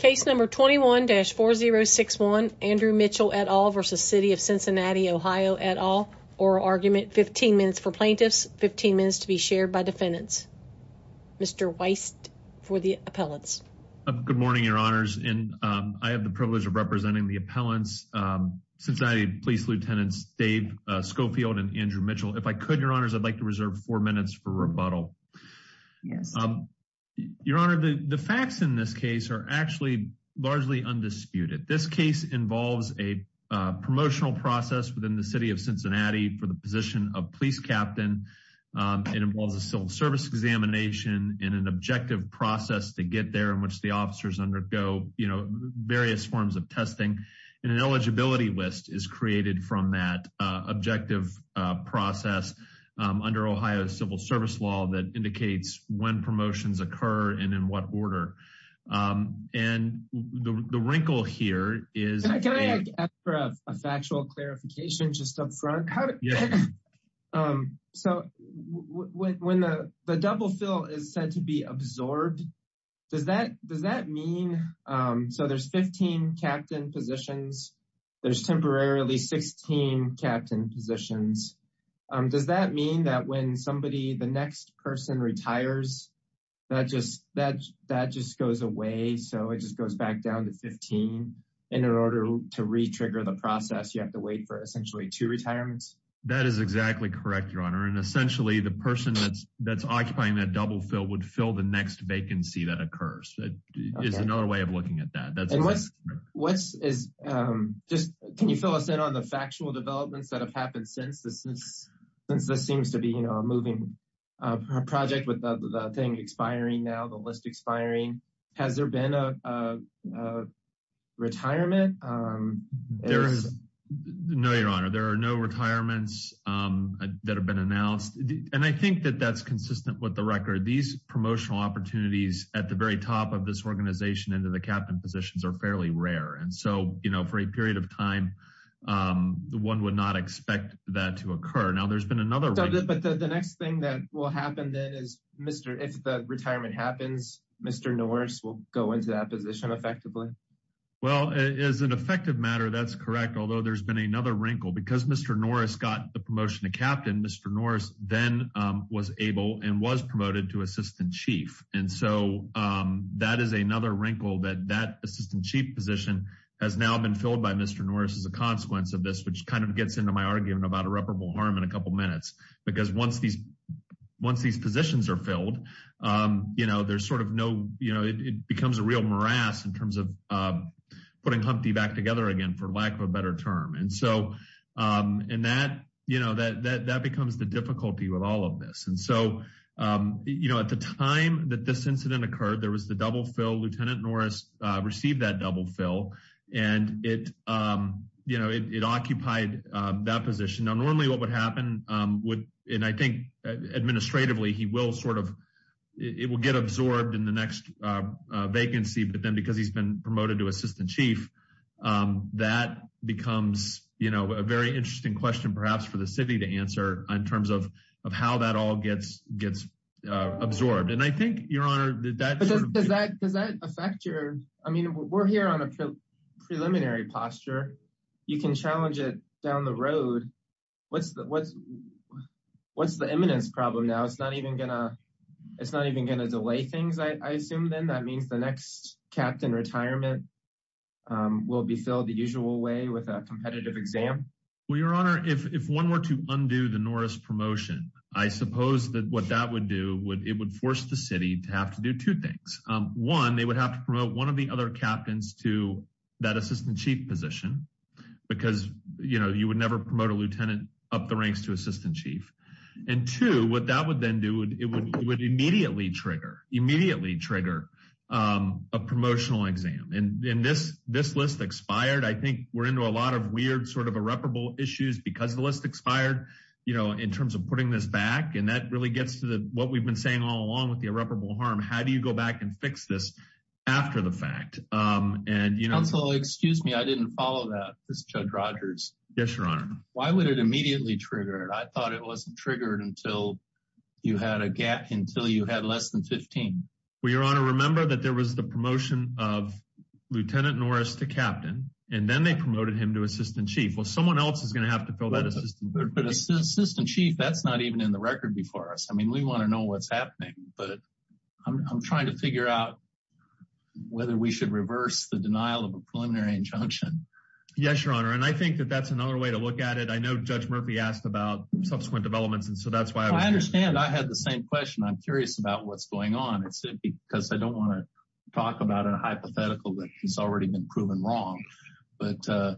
Case number 21-4061 Andrew Mitchell et al. v. City of Cincinnati OH et al. Oral argument 15 minutes for plaintiffs, 15 minutes to be shared by defendants. Mr. Weist for the appellants. Good morning your honors and I have the privilege of representing the appellants, Cincinnati Police Lieutenants Dave Schofield and Andrew Mitchell. If I could your honors I'd like to reserve four minutes for rebuttal. Yes your honor the the facts in this case are actually largely undisputed. This case involves a promotional process within the city of Cincinnati for the position of police captain. It involves a civil service examination and an objective process to get there in which the officers undergo you know various forms of testing and an eligibility list is created from that objective process under Ohio civil service law that indicates when promotions occur and in what order and the the wrinkle here is a factual clarification just up front how to um so when the the double fill is said to be absorbed does that does that mean um so there's 15 captain positions there's temporarily 16 captain positions um does that mean that when somebody the next person retires that just that that just goes away so it just goes back down to 15 in order to re-trigger the process you have to wait for essentially two retirements? That is exactly correct your honor and essentially the person that's that's occupying that double fill would fill the next vacancy that occurs. It is another way of looking at that. And what's what's is um just can you fill us in on the factual developments that have happened since this is since this seems to be you know a moving uh project with the thing expiring now the list expiring has there been a retirement? There is no your honor there are no retirements um that have been announced and I think that that's consistent with the record these promotional opportunities at the very top of this organization into the captain positions are fairly rare and so you know for a period of time um one would not expect that to occur. Now there's been another but the next thing that will happen then is Mr. if the retirement happens Mr. Norris will go into that position effectively? Well as an effective matter that's correct although there's been another wrinkle because Mr. Norris got the promotion to captain Mr. Norris then um was able and was promoted to assistant chief and so um that is another wrinkle that that assistant chief position has now been filled by Mr. Norris as a consequence of this which kind of gets into my argument about irreparable harm in a couple minutes because once these once these positions are filled um you know there's sort of no you know it becomes a real morass in terms of uh putting Humpty back together again for lack of a better term and so um and that you know that that becomes the difficulty with all of this and so um you know at the time that this incident occurred there was the double fill lieutenant Norris uh received that double fill and it um you know it occupied uh that position now normally what would happen um would and I think administratively he will sort of it will get absorbed in the next uh vacancy but then because he's been promoted to assistant chief um that becomes you know a very interesting question perhaps for the city to answer in terms of of how that all gets gets uh absorbed and I think your honor that does that does that affect your I mean we're here on a preliminary posture you can challenge it down the road what's the what's what's the eminence problem now it's not even gonna it's not even gonna delay things I assume then that means the next captain retirement um will be filled the the Norris promotion I suppose that what that would do would it would force the city to have to do two things um one they would have to promote one of the other captains to that assistant chief position because you know you would never promote a lieutenant up the ranks to assistant chief and two what that would then do it would immediately trigger immediately trigger um a promotional exam and in this this list expired I think we're into a lot of weird sort of irreparable issues because the list expired you know in terms of putting this back and that really gets to the what we've been saying all along with the irreparable harm how do you go back and fix this after the fact um and you know so excuse me I didn't follow that this judge rogers yes your honor why would it immediately trigger it I thought it wasn't triggered until you had a gap until you had less than 15. Well your honor remember that there was the promotion of lieutenant Norris to captain and they promoted him to assistant chief well someone else is going to have to fill that assistant but assistant chief that's not even in the record before us I mean we want to know what's happening but I'm trying to figure out whether we should reverse the denial of a preliminary injunction yes your honor and I think that that's another way to look at it I know judge Murphy asked about subsequent developments and so that's why I understand I had the same question I'm curious about what's going on it's simply because I don't want to talk about a hypothetical that has already been proven wrong but uh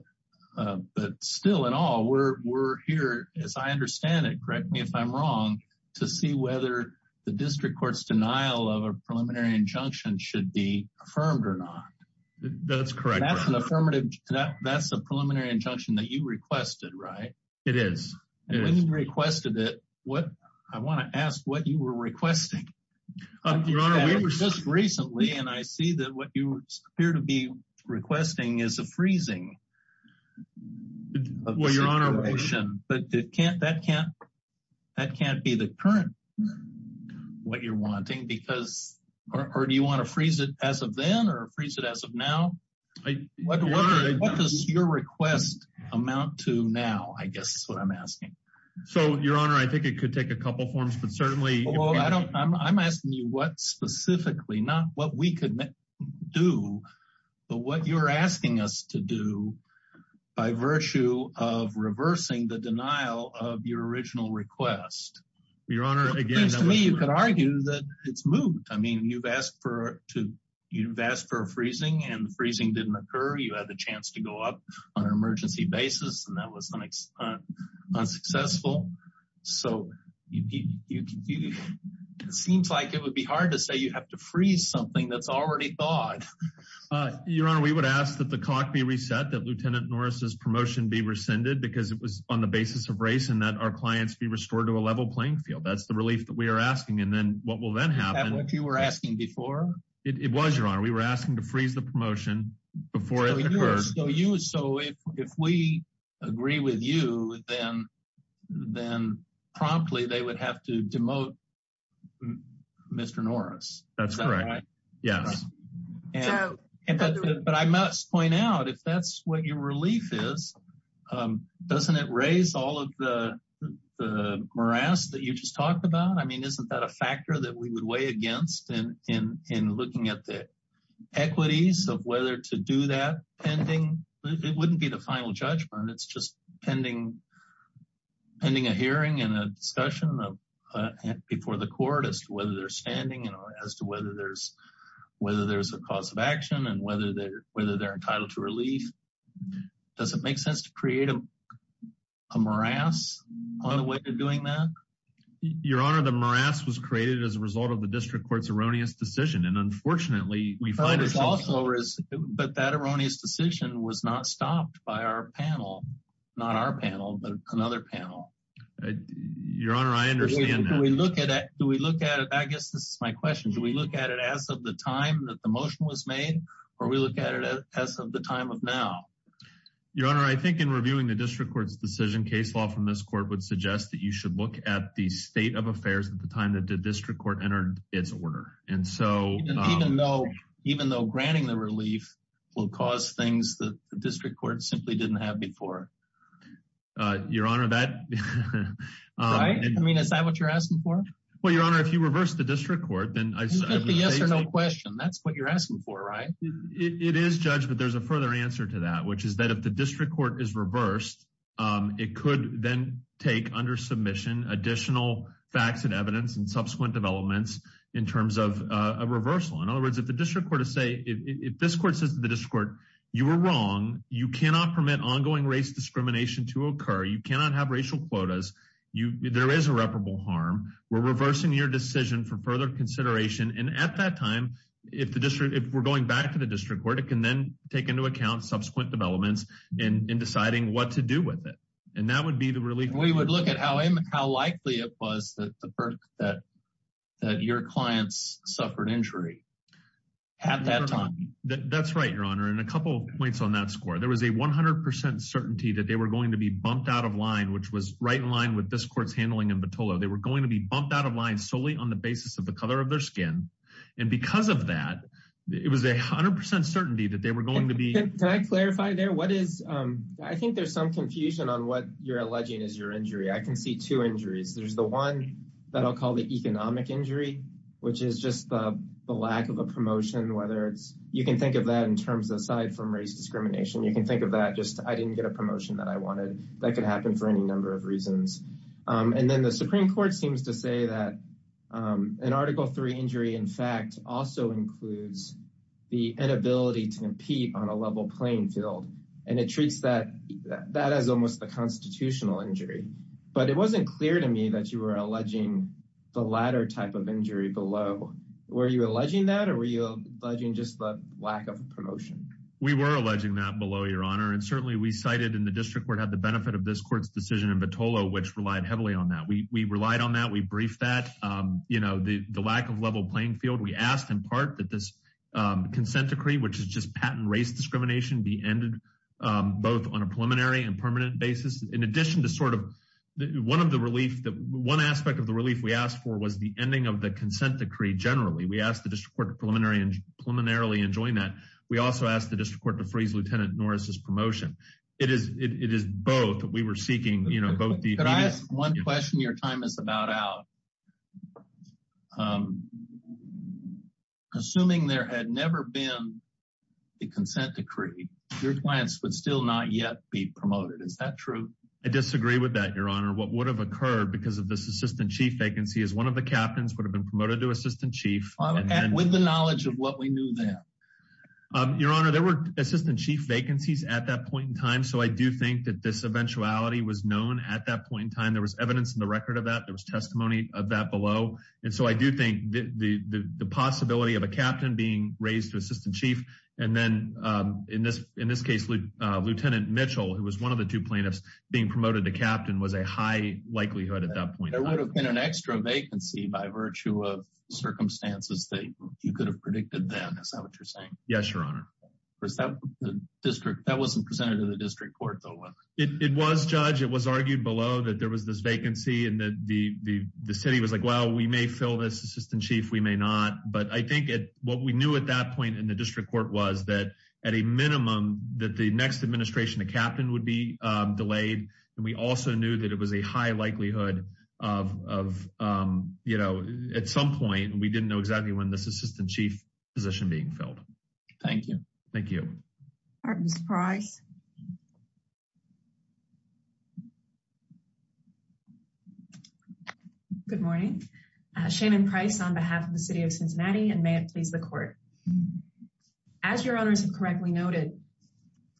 uh but still in all we're we're here as I understand it correct me if I'm wrong to see whether the district court's denial of a preliminary injunction should be affirmed or not that's correct that's an affirmative that's a preliminary injunction that you requested right it is and when you requested it what I want to ask what you were requesting is a freezing well your honor motion but it can't that can't that can't be the current what you're wanting because or do you want to freeze it as of then or freeze it as of now what does your request amount to now I guess that's what I'm asking so your honor I think it could take a couple forms but certainly well I don't I'm asking you what specifically not what we could do but what you're asking us to do by virtue of reversing the denial of your original request your honor again to me you could argue that it's moved I mean you've asked for to you've asked for a freezing and freezing didn't occur you had the chance to go up on an emergency basis and that was the next unsuccessful so you can do it seems like it would be hard to say you have to freeze something that's already thought your honor we would ask that the cock be reset that lieutenant norris's promotion be rescinded because it was on the basis of race and that our clients be restored to a level playing field that's the relief that we are asking and then what will then happen if you were asking before it was your honor we were asking to freeze the promotion before it occurred so you so if if we agree with you then then promptly they would have to demote mr norris that's right yes but I must point out if that's what your relief is um doesn't it raise all of the the morass that you just talked about I mean isn't that a factor that we would weigh against and in in looking at the equities of whether to do that pending it wouldn't be the final judgment it's just pending pending a hearing and a discussion of before the court as to whether they're standing and as to whether there's whether there's a cause of action and whether they're whether they're entitled to relief does it make sense to create a morass on the way to doing that your honor the morass was created as a result of the district court's erroneous decision and unfortunately we find this also but that erroneous decision was not stopped by our panel not our panel but another panel your honor I understand we look at it do we look at it I guess this is my question do we look at it as of the time that the motion was made or we look at it as of the time of now your honor I think in reviewing the district court's decision case law from this court would suggest that you should look at the state of affairs at the time that the district court entered its order and so even though even though granting the relief will cause things that the right I mean is that what you're asking for well your honor if you reverse the district court then yes or no question that's what you're asking for right it is judged but there's a further answer to that which is that if the district court is reversed it could then take under submission additional facts and evidence and subsequent developments in terms of a reversal in other words if the district court is say if this court says to the district court you were wrong you cannot have racial quotas you there is irreparable harm we're reversing your decision for further consideration and at that time if the district if we're going back to the district court it can then take into account subsequent developments in in deciding what to do with it and that would be the relief we would look at how how likely it was that the perk that that your clients suffered injury at that time that's right your honor and a couple points on that score there was a 100 certainty that they were going to be bumped out of line which was right in line with this court's handling in batola they were going to be bumped out of line solely on the basis of the color of their skin and because of that it was a hundred percent certainty that they were going to be can i clarify there what is um i think there's some confusion on what you're alleging is your injury i can see two injuries there's the one that i'll call the economic injury which is just the lack of a promotion whether it's you can think of that in terms aside from race discrimination you can think of that just i didn't get a promotion that i wanted that could happen for any number of reasons um and then the supreme court seems to say that um an article three injury in fact also includes the inability to compete on a level playing field and it treats that that as almost the constitutional injury but it wasn't clear to me that you were alleging the latter type of injury below were you alleging that or were you alleging just the lack of a promotion we were alleging that your honor and certainly we cited in the district court had the benefit of this court's decision in batola which relied heavily on that we we relied on that we briefed that um you know the the lack of level playing field we asked in part that this um consent decree which is just patent race discrimination be ended um both on a preliminary and permanent basis in addition to sort of one of the relief that one aspect of the relief we asked for was the ending of the consent decree generally we asked the district court preliminary and preliminarily enjoying that we also asked the lieutenant norris's promotion it is it is both we were seeking you know both the one question your time is about out um assuming there had never been the consent decree your clients would still not yet be promoted is that true i disagree with that your honor what would have occurred because of this assistant chief vacancy is one of the captains would have been promoted to assistant chief with the knowledge of what we knew then your honor there were assistant chief vacancies at that point in time so i do think that this eventuality was known at that point in time there was evidence in the record of that there was testimony of that below and so i do think the the possibility of a captain being raised to assistant chief and then um in this in this case lieutenant mitchell who was one of the two plaintiffs being promoted to captain was a high likelihood at that point there would have been an extra vacancy by virtue of circumstances that you could have predicted then is that what you're saying yes your honor was that the district that wasn't presented to the district court though it was judge it was argued below that there was this vacancy and that the the city was like well we may fill this assistant chief we may not but i think it what we knew at that point in the district court was that at a minimum that the next administration the captain would be um delayed and we also knew that it was a high likelihood of of um you know at some point we didn't know exactly when this assistant chief position being filled thank you thank you all right mr price good morning uh shannon price on behalf of the city of cincinnati and may it please the court um as your honors have correctly noted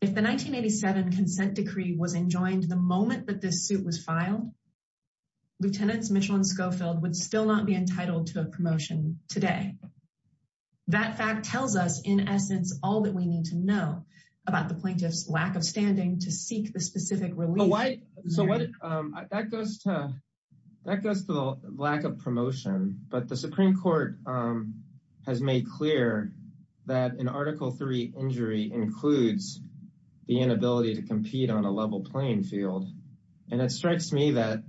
if the 1987 consent decree was enjoined the moment that this suit was filed lieutenants mitchell and schofield would still not be entitled to a promotion today that fact tells us in essence all that we need to know about the plaintiff's lack of standing to seek the specific relief so what um that goes to that goes to the lack of that in article three injury includes the inability to compete on a level playing field and it strikes me that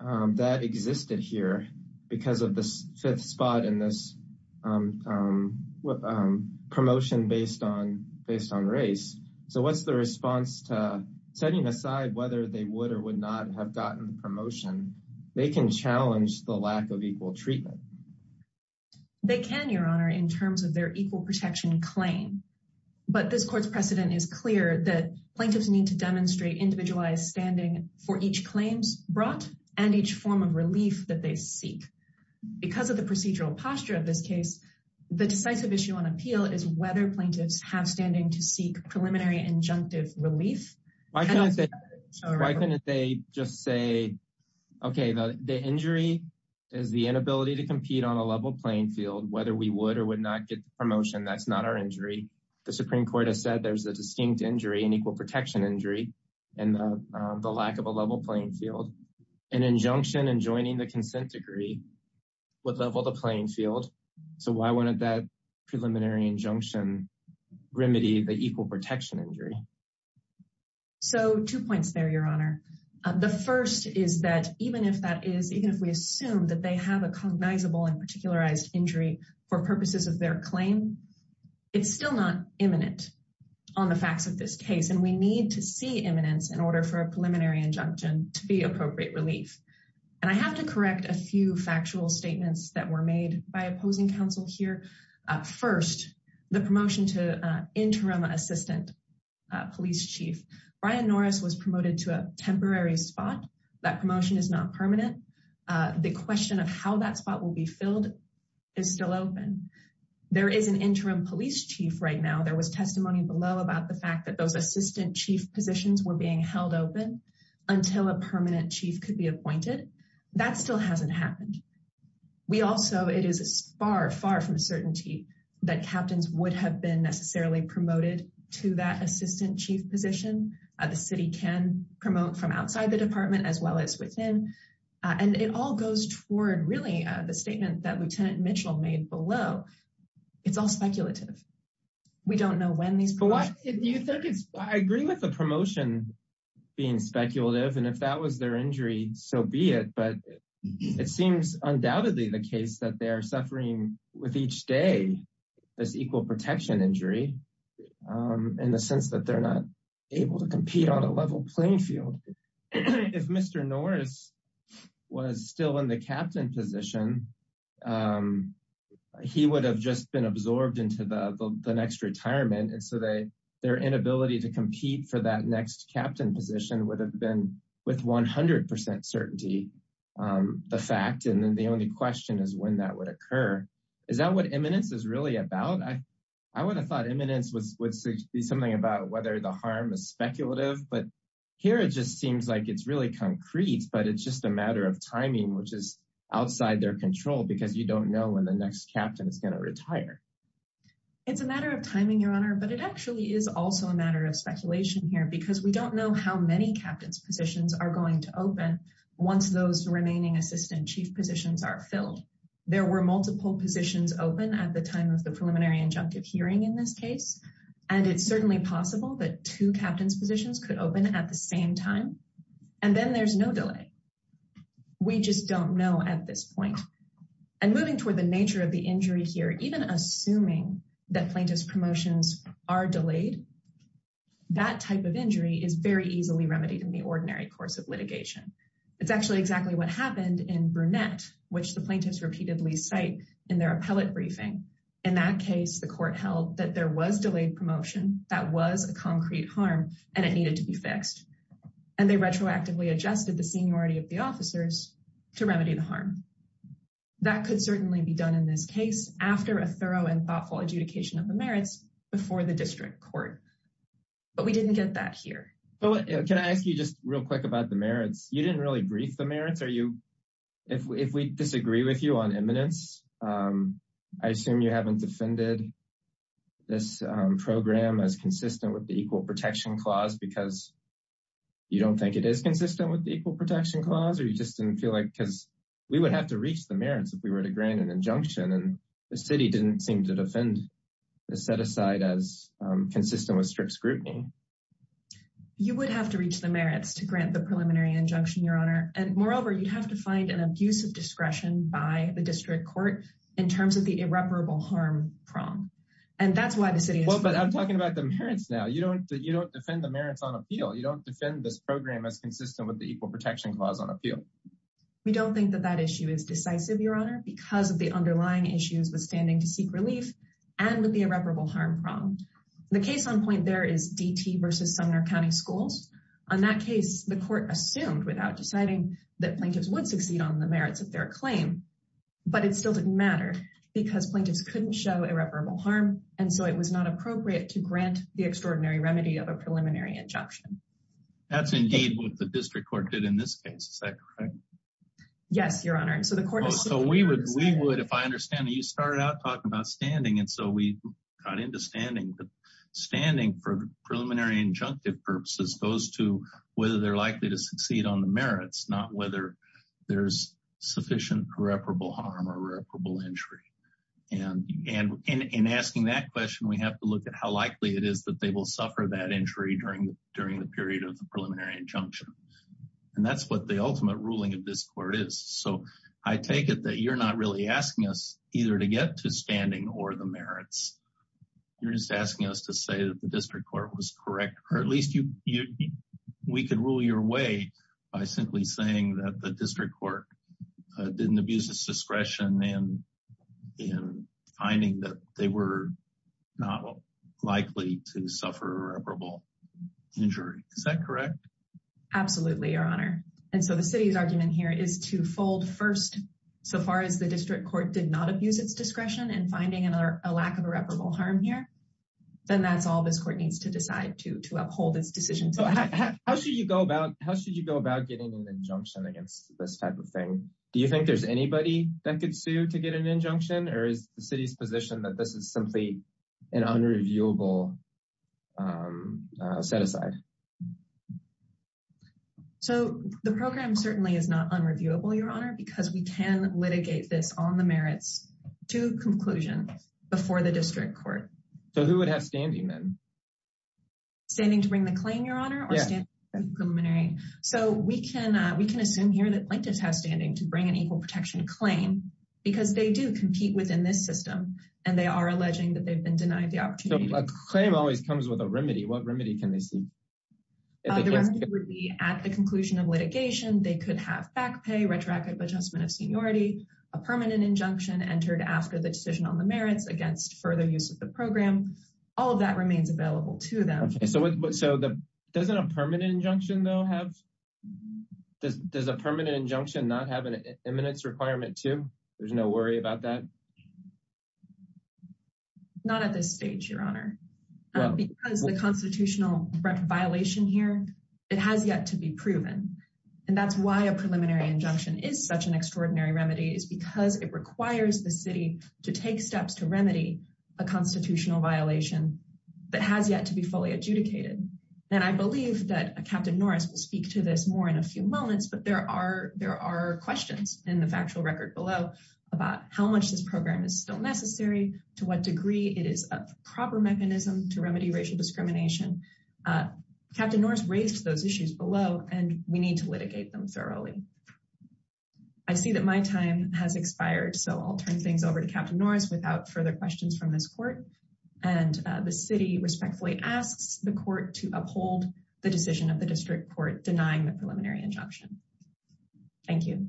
um that existed here because of the fifth spot in this um um promotion based on based on race so what's the response to setting aside whether they would or would not have gotten the promotion they can challenge the lack of equal treatment they can your honor in terms of their equal protection claim but this court's precedent is clear that plaintiffs need to demonstrate individualized standing for each claims brought and each form of relief that they seek because of the procedural posture of this case the decisive issue on appeal is whether plaintiffs have standing to seek preliminary injunctive relief why can't they why couldn't they just say okay the the injury is the inability to compete on a level playing field whether we would or would not get the promotion that's not our injury the supreme court has said there's a distinct injury and equal protection injury and the lack of a level playing field an injunction and joining the consent decree would level the playing field so why wouldn't that preliminary injunction remedy the equal protection injury so two points there your honor the first is that even if that is even if we assume that they have a cognizable and particularized injury for purposes of their claim it's still not imminent on the facts of this case and we need to see imminence in order for a preliminary injunction to be appropriate relief and i have to correct a few factual statements that were made by opposing counsel here first the promotion to interim assistant police chief brian norris was promoted to a temporary spot that promotion is not permanent the question of how that spot will be filled is still open there is an interim police chief right now there was testimony below about the fact that those assistant chief positions were being held open until a permanent chief could be appointed that still hasn't happened we also it is far far from certainty that captains would have been necessarily promoted to that assistant chief position the city can promote from outside the department as well as within and it all goes toward really the statement that lieutenant mitchell made below it's all speculative we don't know when these but what do you think it's i agree with the promotion being speculative and if that was their injury so be it but it seems undoubtedly the case that they are suffering with each day this equal protection injury um in the sense that they're not able to compete on a level playing field if mr norris was still in the captain position um he would have just been absorbed into the the next retirement and so they their inability to compete for that next captain position would have been with 100 certainty um the fact and then the only question is when that would occur is that what eminence is really about i i would have thought eminence was would be something about whether the harm is speculative but here it just seems like it's really concrete but it's just a matter of timing which is outside their control because you don't know when the next captain is going to retire it's a matter of timing your honor but it actually is also a matter of speculation here because we don't know how many captain's positions are going to open once those remaining assistant chief positions are filled there were multiple positions open at the time of the preliminary injunctive hearing in this case and it's certainly possible that two captain's positions could open at the same time and then there's no delay we just don't know at this point and moving toward the nature of the injury here even assuming that plaintiff's promotions are delayed that type of injury is very easily remedied in the ordinary course of litigation it's actually exactly what happened in brunette which the plaintiffs repeatedly cite in their appellate briefing in that case the court held that there was delayed promotion that was a concrete harm and it needed to be fixed and they retroactively adjusted the seniority of the officers to remedy the harm that could certainly be done in this case after a adjudication of the merits before the district court but we didn't get that here but can i ask you just real quick about the merits you didn't really brief the merits are you if we disagree with you on eminence i assume you haven't defended this program as consistent with the equal protection clause because you don't think it is consistent with the equal protection clause or you just didn't feel like because we would have to reach the merits if we were to grant an injunction and the city didn't seem to defend the set aside as consistent with strict scrutiny you would have to reach the merits to grant the preliminary injunction your honor and moreover you'd have to find an abuse of discretion by the district court in terms of the irreparable harm prom and that's why the city well but i'm talking about the merits now you don't you don't defend the merits on appeal you don't defend this program as consistent with the equal protection clause on issues withstanding to seek relief and with the irreparable harm prom the case on point there is dt versus sumner county schools on that case the court assumed without deciding that plaintiffs would succeed on the merits of their claim but it still didn't matter because plaintiffs couldn't show irreparable harm and so it was not appropriate to grant the extraordinary remedy of a preliminary injunction that's indeed what the district court did in this case is that correct yes your honor so we would we would if i understand you started out talking about standing and so we got into standing but standing for preliminary injunctive purposes goes to whether they're likely to succeed on the merits not whether there's sufficient irreparable harm or irreparable injury and and in asking that question we have to look at how likely it is that they will suffer that injury during during the period of the preliminary injunction and that's what the i take it that you're not really asking us either to get to standing or the merits you're just asking us to say that the district court was correct or at least you you we could rule your way by simply saying that the district court didn't abuse its discretion and in finding that they were not likely to suffer irreparable injury is that correct absolutely your honor and so the city's argument here is to fold first so far as the district court did not abuse its discretion and finding another a lack of irreparable harm here then that's all this court needs to decide to to uphold its decision so how should you go about how should you go about getting an injunction against this type of thing do you think there's anybody that could sue to get an injunction or is the city's position that this is simply an unreviewable um set aside um so the program certainly is not unreviewable your honor because we can litigate this on the merits to conclusion before the district court so who would have standing then standing to bring the claim your honor or standing preliminary so we can uh we can assume here that plaintiffs have standing to bring an equal protection claim because they do compete within this system and they are alleging that they've been denied the opportunity a claim always comes with a remedy what remedy can they see the remedy would be at the conclusion of litigation they could have back pay retroactive adjustment of seniority a permanent injunction entered after the decision on the merits against further use of the program all of that remains available to them so so the doesn't a permanent injunction though have does does a permanent injunction not have an eminence requirement too there's no worry about that not at this stage your honor because the constitutional violation here it has yet to be proven and that's why a preliminary injunction is such an extraordinary remedy is because it requires the city to take steps to remedy a constitutional violation that has yet to be fully adjudicated and i believe that captain norris will speak to this more in a few moments but there are there are questions in the factual about how much this program is still necessary to what degree it is a proper mechanism to remedy racial discrimination uh captain norris raised those issues below and we need to litigate them thoroughly i see that my time has expired so i'll turn things over to captain norris without further questions from this court and the city respectfully asks the court to uphold the decision of the district court denying the preliminary injunction thank you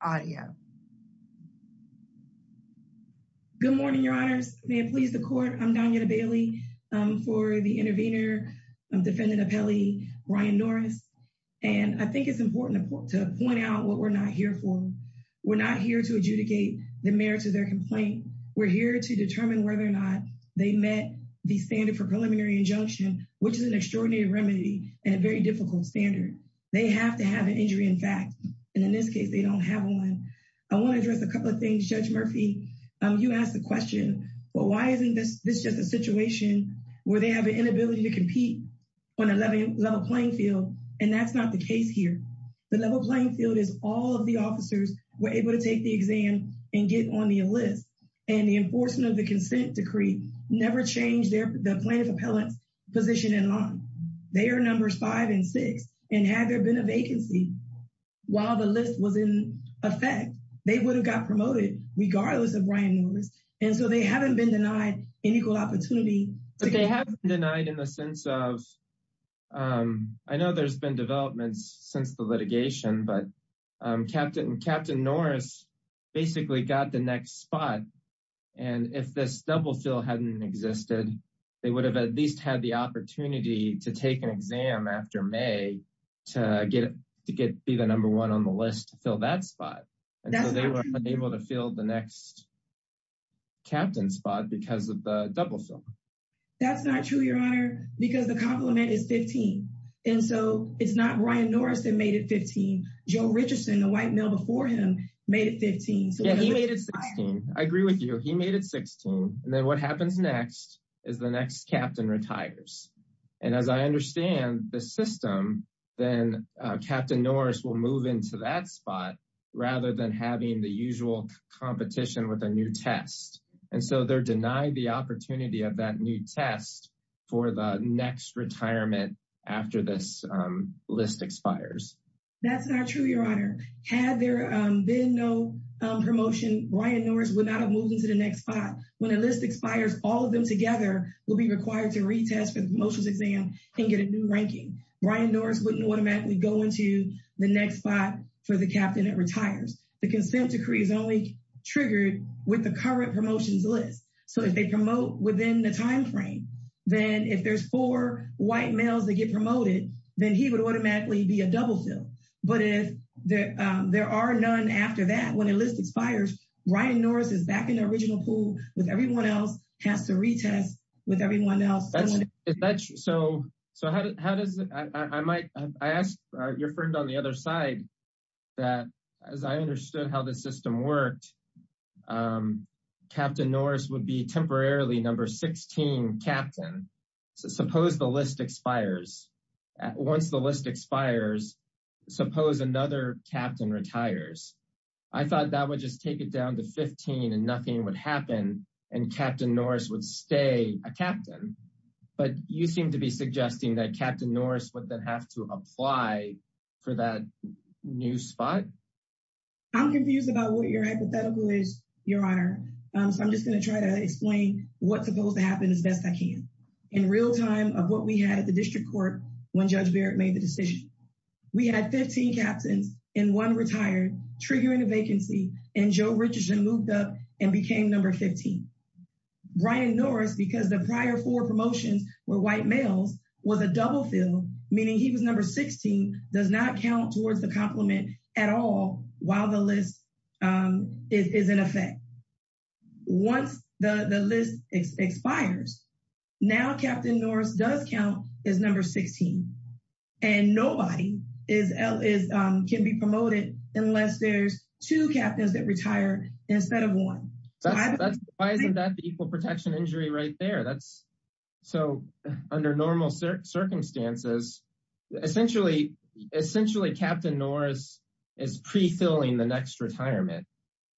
audio good morning your honors may it please the court i'm donna bailey um for the intervener i'm defendant appellee ryan norris and i think it's important to point out what we're not here we're not here to adjudicate the merits of their complaint we're here to determine whether or not they met the standard for preliminary injunction which is an extraordinary remedy and a very difficult standard they have to have an injury in fact and in this case they don't have one i want to address a couple of things judge murphy um you asked the question but why isn't this this just a situation where they have an inability to compete on a level playing field and that's not the case here the level playing field is all of the officers were able to take the exam and get on the list and the enforcement of the consent decree never changed their the plaintiff appellate's position in line they are numbers five and six and had there been a vacancy while the list was in effect they would have got promoted regardless of brian norris and so they haven't been denied an equal opportunity but they have denied in the sense of um i know there's been developments since the litigation but um captain captain norris basically got the next spot and if this double fill hadn't existed they would have at least had the opportunity to take an exam after may to get to get be the number one on the list to fill that spot and so they were unable to fill the next captain spot because of the double film that's not true because the compliment is 15 and so it's not brian norris that made it 15 joe richardson the white male before him made it 15 so he made it 16 i agree with you he made it 16 and then what happens next is the next captain retires and as i understand the system then captain norris will move into that spot rather than having the usual competition with a new test and so they're denied the opportunity of that new test for the next retirement after this list expires that's not true your honor had there been no promotion brian norris would not have moved into the next spot when a list expires all of them together will be required to retest for the promotions exam and get a new ranking brian norris wouldn't automatically go into the next spot for the captain that retires the consent decree is only triggered with the current promotions list so if within the time frame then if there's four white males that get promoted then he would automatically be a double fill but if there there are none after that when the list expires brian norris is back in the original pool with everyone else has to retest with everyone else so so how does i might i asked your friend on the other side that as i understood how the system worked um captain norris would be temporarily number 16 captain so suppose the list expires once the list expires suppose another captain retires i thought that would just take it down to 15 and nothing would happen and captain norris would stay a captain but you seem to be suggesting that captain norris would then have to apply for that new spot i'm confused about what your hypothetical is your honor um so i'm just going to try to explain what's supposed to happen as best i can in real time of what we had at the district court when judge barrett made the decision we had 15 captains and one retired triggering a vacancy and joe richardson moved up and became number 15 brian norris because the prior four promotions were white males was a double fill meaning he was number 16 does not count towards the compliment at all while the list um is in effect once the the list expires now captain norris does count as number 16 and nobody is l is um can be that's why isn't that the equal protection injury right there that's so under normal circumstances essentially essentially captain norris is pre-filling the next retirement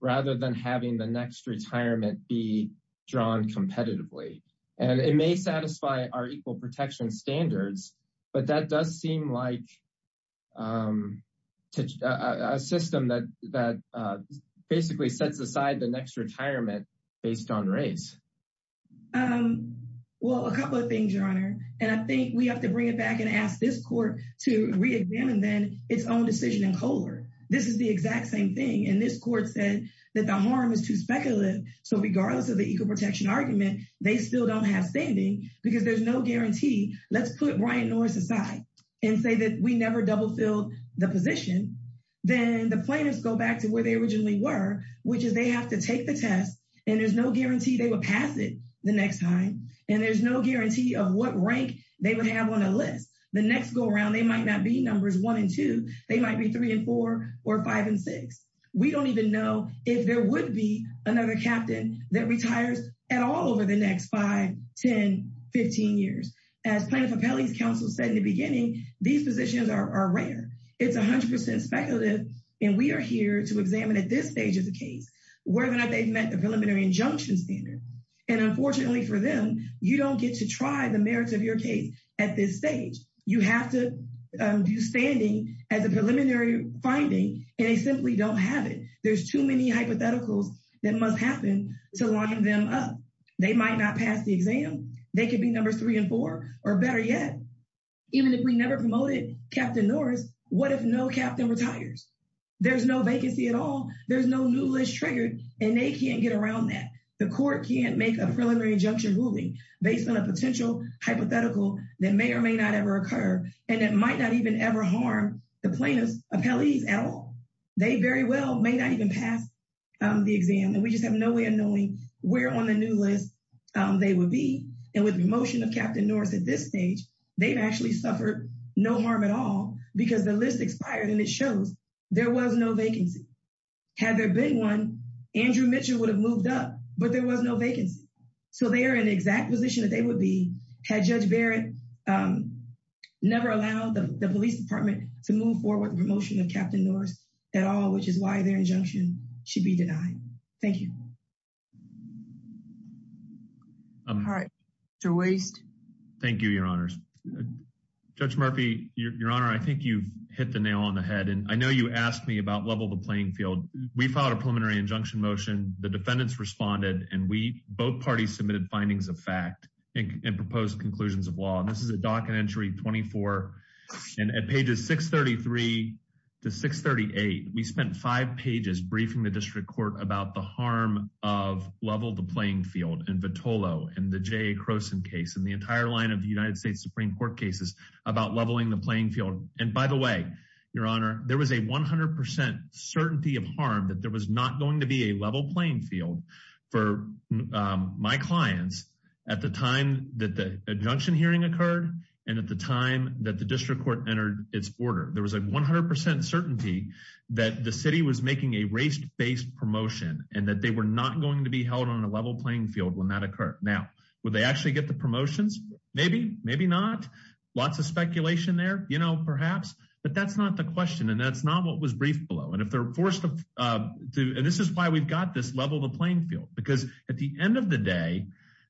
rather than having the next retirement be drawn competitively and it may satisfy our equal protection standards but that does seem like um a system that that basically sets aside the next retirement based on race um well a couple of things your honor and i think we have to bring it back and ask this court to re-examine then its own decision in color this is the exact same thing and this court said that the harm is too speculative so regardless of the equal protection argument they still don't have standing because there's no guarantee let's put brian norris aside and say that we never double filled the position then the plaintiffs go back where they originally were which is they have to take the test and there's no guarantee they will pass it the next time and there's no guarantee of what rank they would have on a list the next go around they might not be numbers one and two they might be three and four or five and six we don't even know if there would be another captain that retires at all over the next five ten fifteen years as plaintiff appellees council said in the beginning these positions are rare it's 100 speculative and we are here to examine at this stage of the case whether or not they've met the preliminary injunction standard and unfortunately for them you don't get to try the merits of your case at this stage you have to do standing as a preliminary finding and they simply don't have it there's too many hypotheticals that must happen to line them up they might not pass the exam they could be number three and four or better yet even if we never promoted captain norris what if no captain retires there's no vacancy at all there's no new list triggered and they can't get around that the court can't make a preliminary injunction ruling based on a potential hypothetical that may or may not ever occur and it might not even ever harm the plaintiffs appellees at all they very well may not even pass the exam and we just have no way of knowing where on the new list they would be and with the motion of captain norris at this stage they've actually suffered no harm at all because the list expired and it shows there was no vacancy had there been one andrew mitchell would have moved up but there was no vacancy so they are in the exact position that they would be had judge barrett um never allowed the police department to move forward the promotion of captain norris at all which is why their injunction should be denied thank you all right your waist thank you your honors judge murphy your honor i think you've hit the nail on the head and i know you asked me about level the playing field we filed a preliminary injunction motion the defendants responded and we both parties submitted findings of fact and proposed conclusions of law and this is a docket entry 24 and at pages 633 to 638 we spent five pages briefing the district court about the harm of level the playing field and vittolo and the jay crowson case and the entire line of the united states supreme court cases about leveling the playing field and by the way your honor there was a 100 certainty of harm that there was not going to be a level playing field for my clients at the time that the injunction hearing occurred and at the time that the district court entered its order there was a 100 certainty that the city was making a race-based promotion and that they were not going to be held on a level playing field when that occurred now would they actually get the promotions maybe maybe not lots of speculation there you know perhaps but that's not the question and that's not what was briefed below and if they're forced to do and this is why we've got this level the playing field because at the end of the day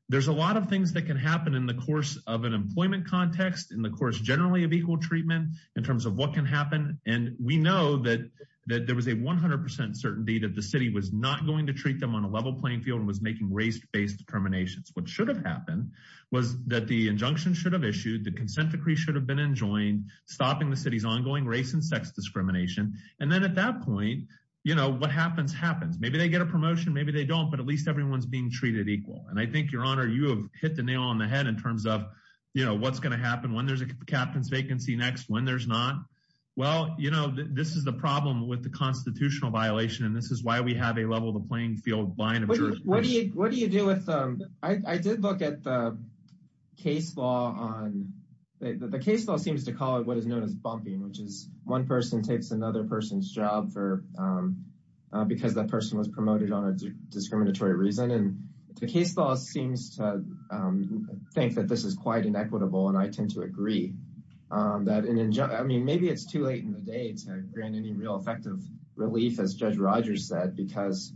there's a lot of things that can happen in the course of an employment context in the course generally of equal treatment in terms of what can happen and we know that that there was a 100 certainty that the city was not going to treat them on a level playing field and was making race-based determinations what should have happened was that the injunction should have issued the consent decree should have been enjoined stopping the city's ongoing race and sex discrimination and then at that point you know what happens happens maybe they get a promotion maybe they don't but at least everyone's being treated equal and i think your honor you have hit the nail on the head in terms of you know what's going to happen when there's a captain's vacancy next when well you know this is the problem with the constitutional violation and this is why we have a level the playing field line of what do you what do you do with um i did look at the case law on the case law seems to call it what is known as bumping which is one person takes another person's job for um because that person was promoted on a discriminatory reason and the case law seems to um think that this is quite inequitable and i tend to agree um that an injunction i mean maybe it's too late in the day to grant any real effective relief as judge rogers said because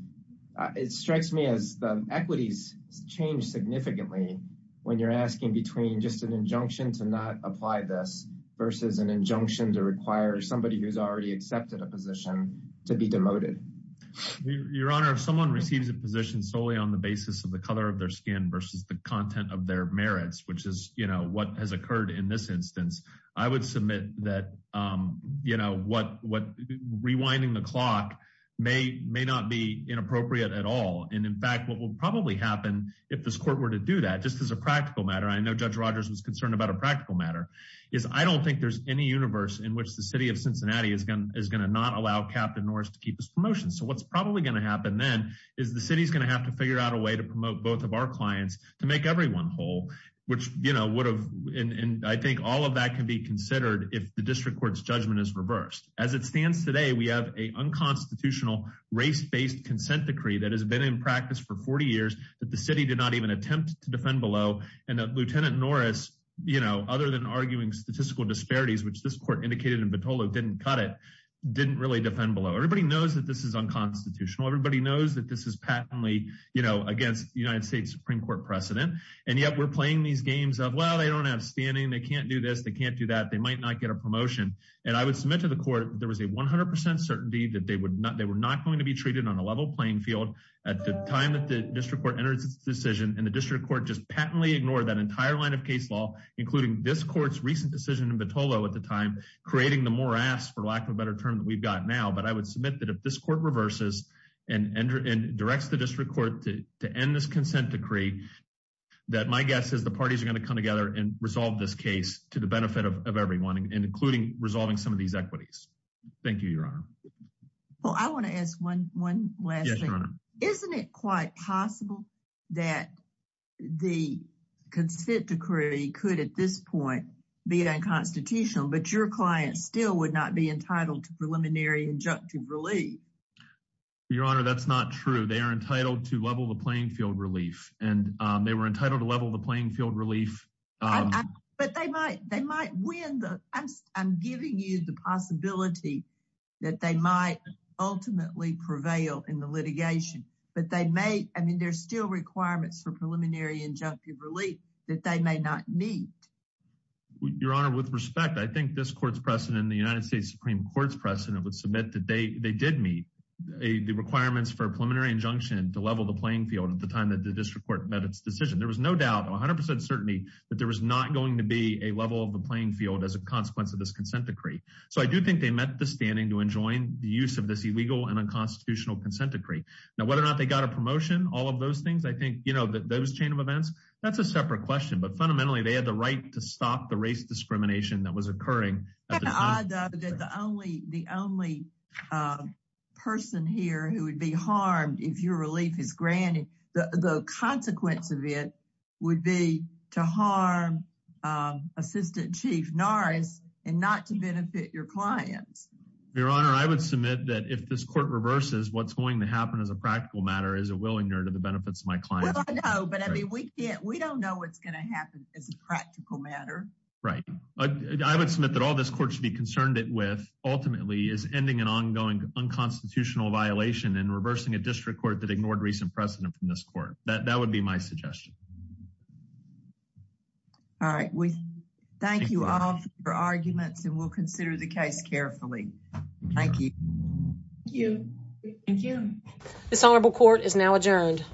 it strikes me as the equities change significantly when you're asking between just an injunction to not apply this versus an injunction to require somebody who's already accepted a position to be demoted your honor if someone receives a position solely on the basis of the color of their skin versus the content of their merits which is you know what has occurred in this instance i would submit that um you know what what rewinding the clock may may not be inappropriate at all and in fact what will probably happen if this court were to do that just as a practical matter i know judge rogers was concerned about a practical matter is i don't think there's any universe in which the city of cincinnati is going is going to not allow captain norris to keep his promotion so what's probably going to happen then is the city's going to have to figure out a way to promote both of our clients to make everyone whole which you would have and i think all of that can be considered if the district court's judgment is reversed as it stands today we have a unconstitutional race-based consent decree that has been in practice for 40 years that the city did not even attempt to defend below and that lieutenant norris you know other than arguing statistical disparities which this court indicated in batola didn't cut it didn't really defend below everybody knows that this is unconstitutional everybody knows that this is patently you know against the united states supreme court precedent and yet we're playing these games of well they don't have standing they can't do this they can't do that they might not get a promotion and i would submit to the court there was a 100 certainty that they would not they were not going to be treated on a level playing field at the time that the district court entered this decision and the district court just patently ignored that entire line of case law including this court's recent decision in batola at the time creating the morass for lack of a better term that we've got now but i would submit that if this court reverses and enter and directs the district court to end this consent decree that my guess is the parties are going to come together and resolve this case to the benefit of everyone including resolving some of these equities thank you your honor well i want to ask one one last thing isn't it quite possible that the consent decree could at this point be unconstitutional but your client still would not be entitled to preliminary injunctive relief your honor that's not true they are entitled to level the playing field relief and they were entitled to level the playing field relief but they might they might win the i'm giving you the possibility that they might ultimately prevail in the litigation but they may i mean there's still requirements for preliminary relief that they may not meet your honor with respect i think this court's precedent the united states supreme court's precedent would submit that they they did meet a the requirements for preliminary injunction to level the playing field at the time that the district court met its decision there was no doubt 100 certainty that there was not going to be a level of the playing field as a consequence of this consent decree so i do think they met the standing to enjoin the use of this illegal and unconstitutional consent decree now whether or not they got a promotion all of those things i think you know that those chain of events that's a separate question but fundamentally they had the right to stop the race discrimination that was occurring i doubt that the only the only person here who would be harmed if your relief is granted the the consequence of it would be to harm um assistant chief norris and not to benefit your clients your honor i would submit that if this court reverses what's going to happen as a practical matter is a willingness to be considered to the benefits of my clients but i mean we can't we don't know what's going to happen as a practical matter right i would submit that all this court should be concerned it with ultimately is ending an ongoing unconstitutional violation and reversing a district court that ignored recent precedent from this court that that would be my suggestion all right we thank you all for arguments and we'll consider the case carefully thank you thank you thank you this honorable court is now adjourned